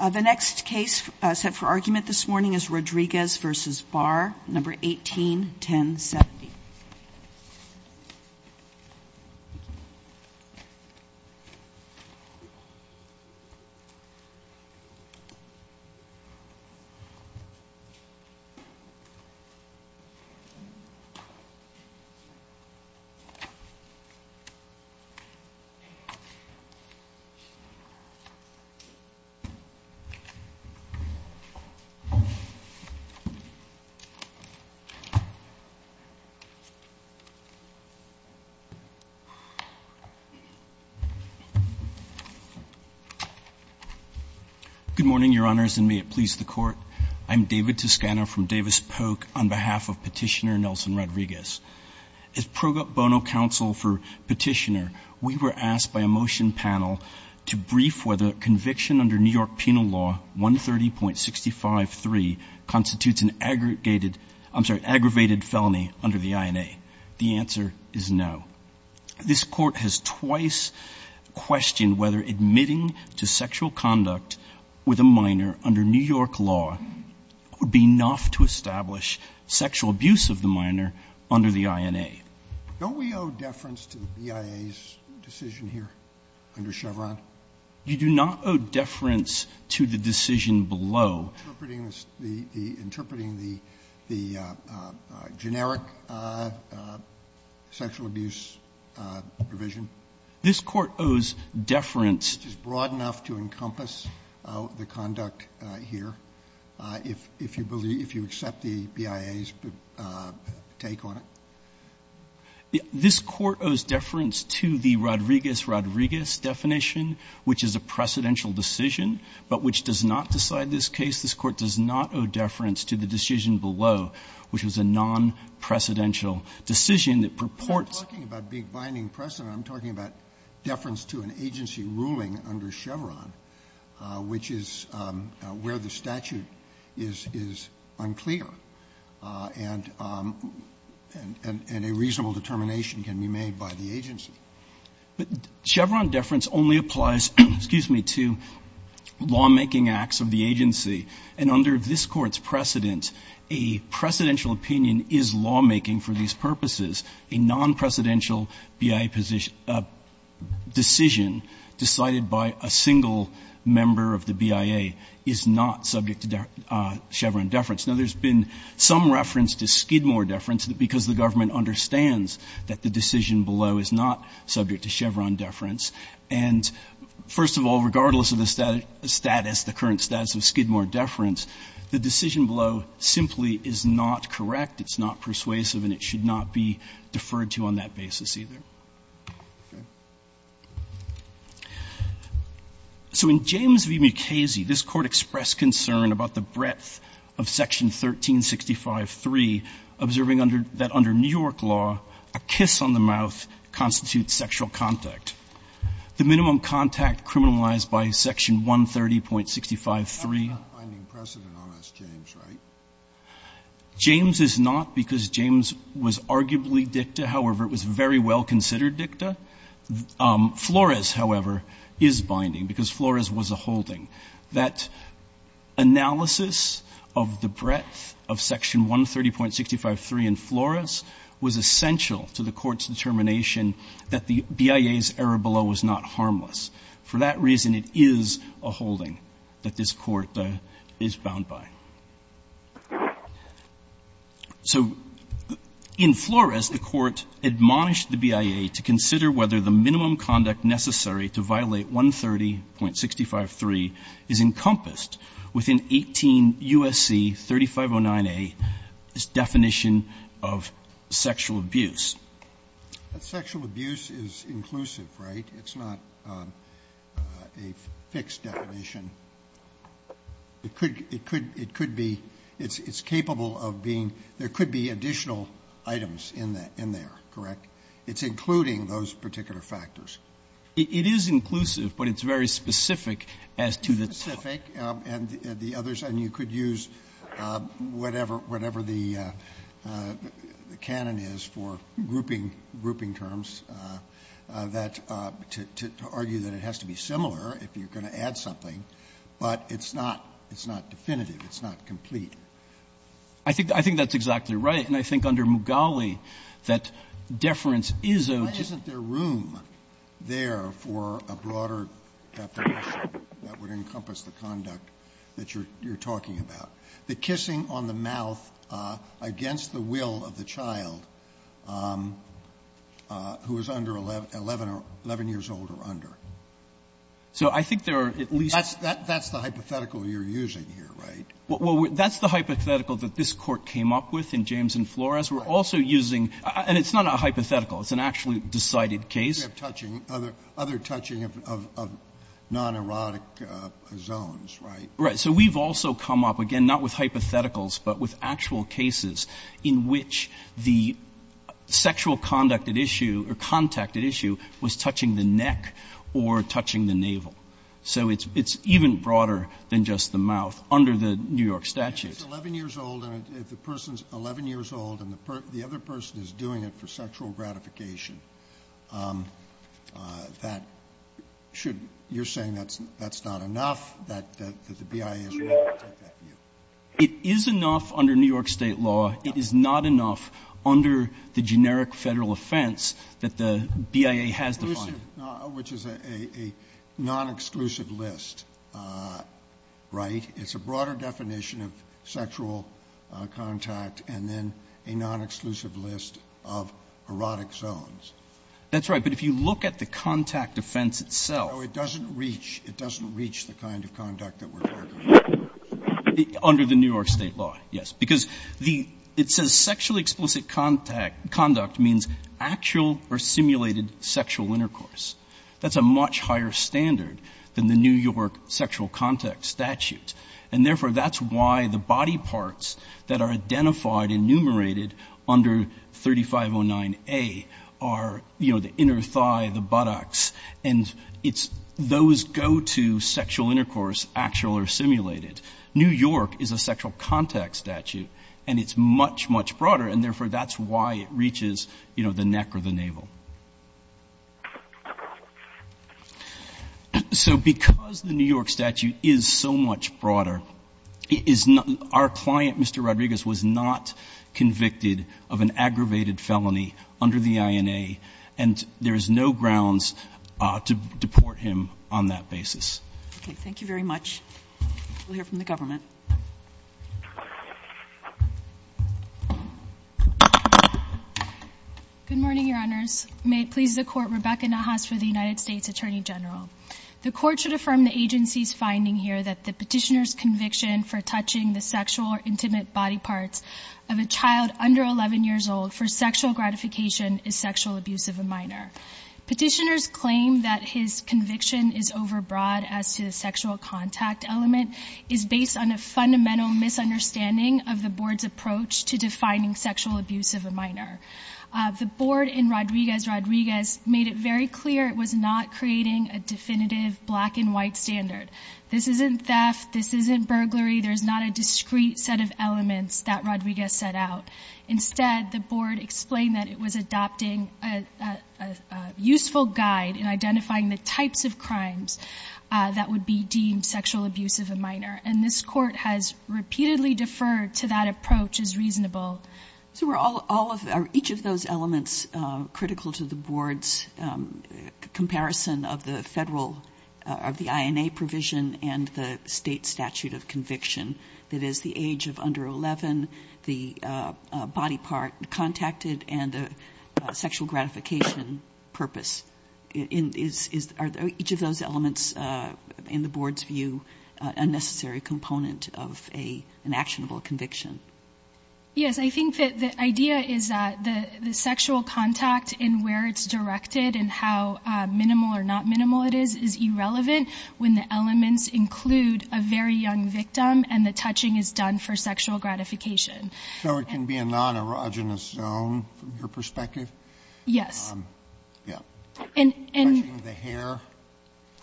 The next case set for argument this morning is Rodriguez v. Barr, No. 18-1070. David Toscano Good morning, Your Honors, and may it please the Court. I am David Toscano from Davis Polk on behalf of Petitioner Nelson Rodriguez. As pro bono counsel for Petitioner, we were asked by a motion panel to brief whether conviction under New York Penal Law 130.653 constitutes an aggravated felony under the INA. The answer is no. This Court has twice questioned whether admitting to sexual conduct with a minor under New York law would be enough to establish sexual abuse of the minor under the INA. Don't we owe deference to the BIA's decision here under Chevron? You do not owe deference to the decision below. Interpreting the generic sexual abuse provision? This Court owes deference. Which is broad enough to encompass the conduct here, if you believe, if you accept the BIA's take on it? This Court owes deference to the Rodriguez-Rodriguez definition, which is a precedential decision, but which does not decide this case. This Court does not owe deference to the decision below, which is a non-precedential decision that purports to the law. And this Court does not owe deference to the decision below, which is a non-precedential So there is a difference in the ruling under Chevron, which is where the statute is unclear, and a reasonable determination can be made by the agency. Chevron deference only applies, excuse me, to lawmaking acts of the agency. And under this Court's precedent, a precedential opinion is lawmaking for these purposes. A non-precedential BIA decision decided by a single member of the BIA is not subject to Chevron deference. Now, there has been some reference to Skidmore deference because the government understands that the decision below is not subject to Chevron deference. And first of all, regardless of the status, the current status of Skidmore deference, the decision below simply is not correct, it's not persuasive, and it should not be deferred to on that basis either. So in James v. Mukasey, this Court expressed concern about the breadth of section 1365.3, observing under that under New York law, a kiss on the mouth constitutes sexual contact. The minimum contact criminalized by section 130.653. Scalia, that's not binding precedent on S. James, right? James is not because James was arguably dicta. However, it was very well-considered dicta. Flores, however, is binding because Flores was a holding. That analysis of the breadth of section 130.653 in Flores was essential to the Court's conclusion that the deference to Skidmore deference was not harmless. For that reason, it is a holding that this Court is bound by. So in Flores, the Court admonished the BIA to consider whether the minimum conduct necessary to violate 130.653 is encompassed within 18 U.S.C. 3509a, this definition of sexual abuse. Sexual abuse is inclusive, right? It's not a fixed definition. It could be, it's capable of being, there could be additional items in there, correct? It's including those particular factors. It is inclusive, but it's very specific as to the topic. And the others, and you could use whatever, whatever the canon is for grouping, grouping terms that, to argue that it has to be similar if you're going to add something, but it's not, it's not definitive. It's not complete. I think that's exactly right. And I think under Mugali, that deference is a. Why isn't there room there for a broader definition that would encompass the conduct that you're talking about? The kissing on the mouth against the will of the child who is under 11, 11 years old or under. So I think there are at least. That's the hypothetical you're using here, right? Well, that's the hypothetical that this Court came up with in James and Flores. We're also using, and it's not a hypothetical. It's an actually decided case. You have touching, other touching of non-erotic zones, right? Right. So we've also come up, again, not with hypotheticals, but with actual cases in which the sexual conduct at issue or contact at issue was touching the neck or touching the navel. So it's even broader than just the mouth under the New York statute. If the person is 11 years old and the other person is doing it for sexual gratification, that should, you're saying that's not enough, that the BIA is wrong to take that view? It is enough under New York State law. It is not enough under the generic Federal offense that the BIA has defined. Which is a non-exclusive list, right? It's a broader definition of sexual contact and then a non-exclusive list of erotic zones. That's right. But if you look at the contact offense itself. So it doesn't reach, it doesn't reach the kind of conduct that we're talking about. Under the New York State law, yes. Because the, it says sexually explicit contact, conduct means actual or simulated sexual intercourse. That's a much higher standard than the New York sexual contact statute. And therefore, that's why the body parts that are identified and enumerated under 3509A are, you know, the inner thigh, the buttocks, and it's, those go to sexual intercourse, actual or simulated. New York is a sexual contact statute and it's much, much broader and therefore that's why it reaches, you know, the neck or the navel. So because the New York statute is so much broader, it is not, our client, Mr. Rodriguez, was not convicted of an aggravated felony under the INA and there is no grounds to deport him on that basis. Okay. Thank you very much. We'll hear from the government. Good morning, Your Honors. May it please the Court, Rebecca Nahas for the United States Attorney General. The Court should affirm the agency's finding here that the petitioner's conviction for touching the sexual or intimate body parts of a child under 11 years old for sexual gratification is sexual abuse of a minor. Petitioners claim that his conviction is overbroad as to the sexual contact element is based on a fundamental misunderstanding of the Board's approach to defining sexual abuse of a minor. The Board in Rodriguez-Rodriguez made it very clear it was not creating a definitive black and white standard. This isn't theft. This isn't burglary. There's not a discrete set of elements that Rodriguez set out. Instead, the Board explained that it was adopting a useful guide in identifying the types of crimes that would be deemed sexual abuse of a minor. And this Court has repeatedly deferred to that approach as reasonable. So are each of those elements critical to the Board's comparison of the federal of the INA provision and the state statute of conviction? That is, the age of under 11, the body part contacted, and the sexual gratification purpose. Are each of those elements, in the Board's view, a necessary component of an actionable conviction? Yes. I think that the idea is that the sexual contact and where it's directed and how minimal or not minimal it is, is irrelevant when the elements include a very young victim and the touching is done for sexual gratification. So it can be a non-erogenous zone, from your perspective? Yes. Yeah. Touching the hair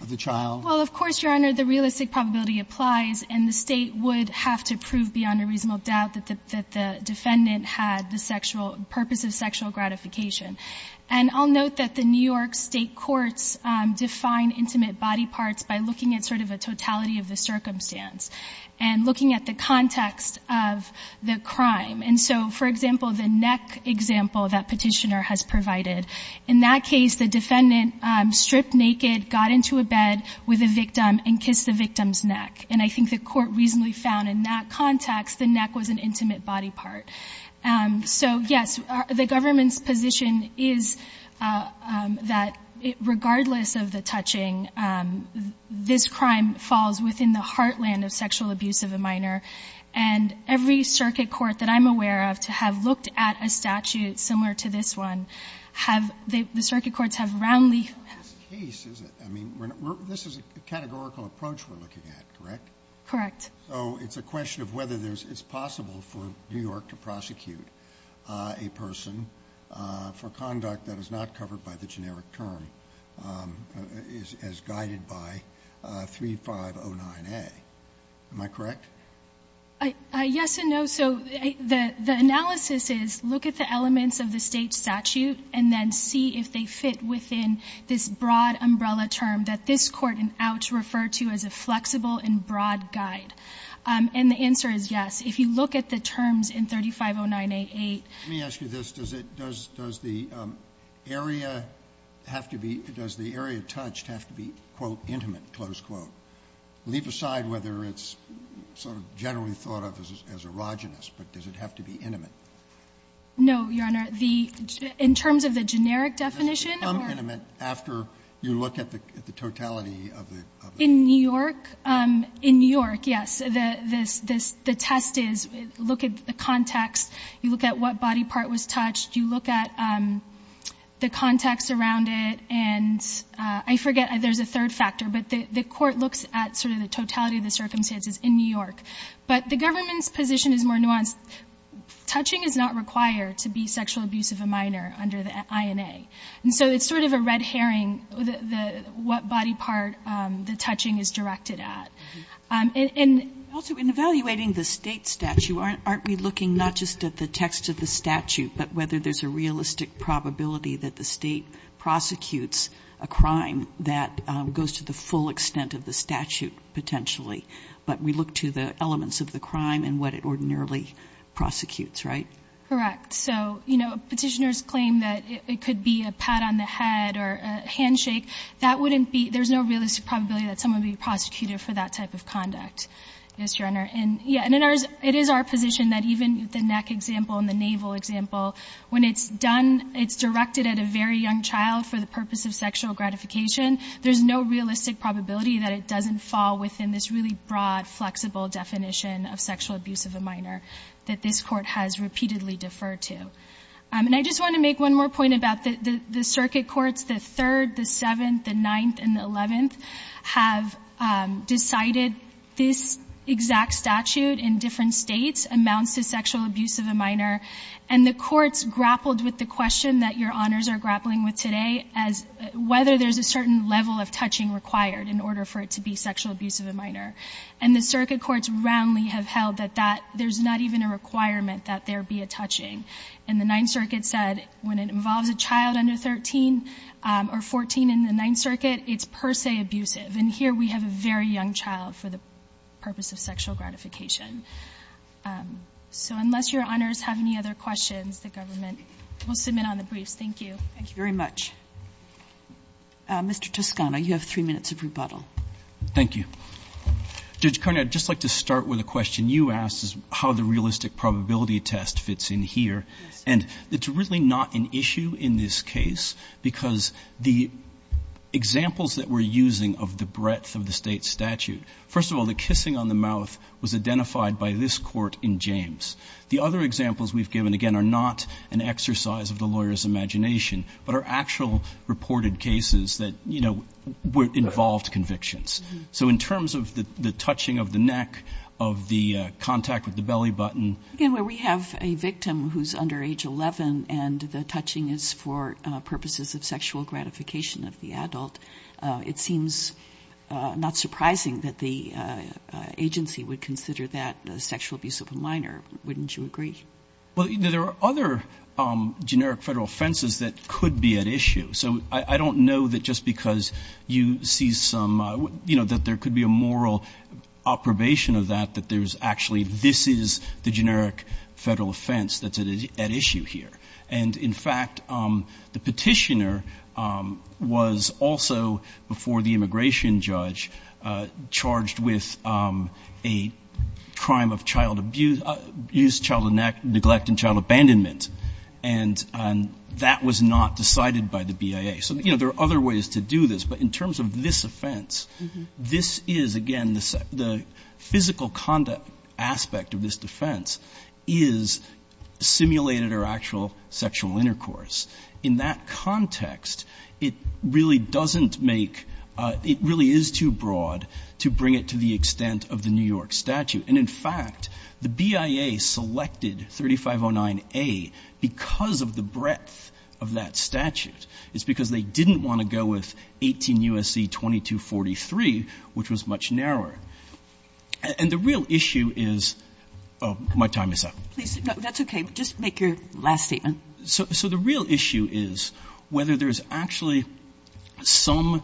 of the child? Well, of course, Your Honor, the realistic probability applies and the state would have to prove beyond a reasonable doubt that the defendant had the purpose of sexual gratification. And I'll note that the New York State Courts define intimate body parts by looking at sort of a totality of the circumstance and looking at the context of the crime. And so, for example, the neck example that Petitioner has provided. In that case, the defendant stripped naked, got into a bed with a victim and kissed the victim's neck. And I think the court reasonably found in that context the neck was an intimate body part. So, yes, the government's position is that regardless of the touching, this crime falls within the heartland of sexual abuse of a minor. And every circuit court that I'm aware of to have looked at a statute similar to this one, the circuit courts have roundly... This is a categorical approach we're looking at, correct? Correct. So it's a question of whether it's possible for New York to prosecute a person for conduct that is not covered by the generic term as guided by 3509A. Am I correct? Yes and no. So the analysis is look at the elements of the state statute and then see if they fit within this broad umbrella term that this Court in Ouch referred to as a flexible and broad guide. And the answer is yes. If you look at the terms in 3509A. Let me ask you this. Does the area have to be, does the area touched have to be, quote, intimate, close quote? Leave aside whether it's sort of generally thought of as erogenous, but does it have to be intimate? No, Your Honor. In terms of the generic definition... Does it become intimate after you look at the totality of the... In New York, yes. The test is look at the context. You look at what body part was touched. You look at the context around it. And I forget, there's a third factor, but the Court looks at sort of the totality of the circumstances in New York. But the government's position is more nuanced. Touching is not required to be sexual abuse of a minor under the INA. And so it's sort of a red herring what body part the touching is directed at. Also, in evaluating the state statute, aren't we looking not just at the text of the statute, but whether there's a realistic probability that the state prosecutes a crime that goes to the full extent of the statute, potentially? But we look to the elements of the crime and what it ordinarily prosecutes, right? Correct. So, you know, petitioners claim that it could be a pat on the head or a handshake. That wouldn't be... There's no realistic probability that someone would be prosecuted for that type of conduct, yes, Your Honor. And, yeah, it is our position that even the neck example and the navel example, when it's done, it's directed at a very young child for the purpose of sexual gratification. There's no realistic probability that it doesn't fall within this really broad, flexible definition of sexual abuse of a minor that this court has repeatedly deferred to. And I just want to make one more point about the circuit courts, the 3rd, the 7th, the 9th, and the 11th have decided this exact statute in different states amounts to sexual abuse of a minor. And the courts grappled with the question that Your Honors are grappling with today as whether there's a certain level of touching required in order for it to be sexual abuse of a minor. And the circuit courts roundly have held that there's not even a requirement that there be a touching. And the 9th Circuit said when it involves a child under 13 or 14 in the 9th Circuit, it's per se abusive. And here we have a very young child for the purpose of sexual gratification. So unless Your Honors have any other questions, the government will submit on the briefs. Thank you. Thank you very much. Mr. Toscano, you have 3 minutes of rebuttal. Thank you. Judge Carney, I'd just like to start with a question you asked is how the realistic probability test fits in here. And it's really not an issue in this case because the examples that we're using of the breadth of the state statute, first of all, the kissing on the mouth was identified by this court in James. The other examples we've given, again, are not an exercise of the lawyer's imagination but are actual reported cases that, you know, involved convictions. So in terms of the touching of the neck, of the contact with the belly button... Again, where we have a victim who's under age 11 and the touching is for purposes of sexual gratification of the adult, it seems not surprising that the agency would consider that a sexual abuse of a minor. Wouldn't you agree? Well, there are other generic federal offenses that could be at issue. So I don't know that just because you see some... You know, that there could be a moral approbation of that, that there's actually... This is the generic federal offense that's at issue here. And, in fact, the petitioner was also, before the immigration judge, charged with a crime of child abuse, child neglect and child abandonment. And that was not decided by the BIA. So, you know, there are other ways to do this. But in terms of this offense, this is, again, the physical conduct aspect of this defense is simulated or actual sexual intercourse. In that context, it really doesn't make... It really is too broad to bring it to the extent of the New York statute. And, in fact, the BIA selected 3509A because of the breadth of that statute. It's because they didn't want to go with 18 U.S.C. 2243, which was much narrower. And the real issue is... Oh, my time is up. No, that's okay. Just make your last statement. So the real issue is whether there's actually some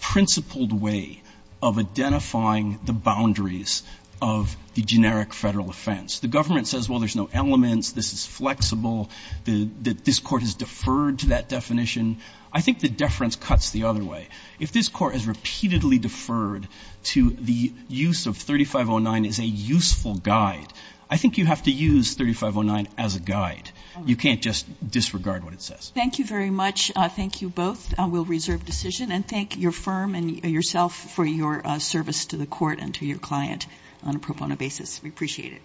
principled way of identifying the boundaries of the generic federal offense. The government says, well, there's no elements. This is flexible. This court has deferred to that definition. I think the deference cuts the other way. If this court has repeatedly deferred to the use of 3509 as a useful guide, I think you have to use 3509 as a guide. You can't just disregard what it says. Thank you very much. Thank you both. We'll reserve decision. And thank your firm and yourself for your service to the court and to your client on a pro bono basis. We appreciate it.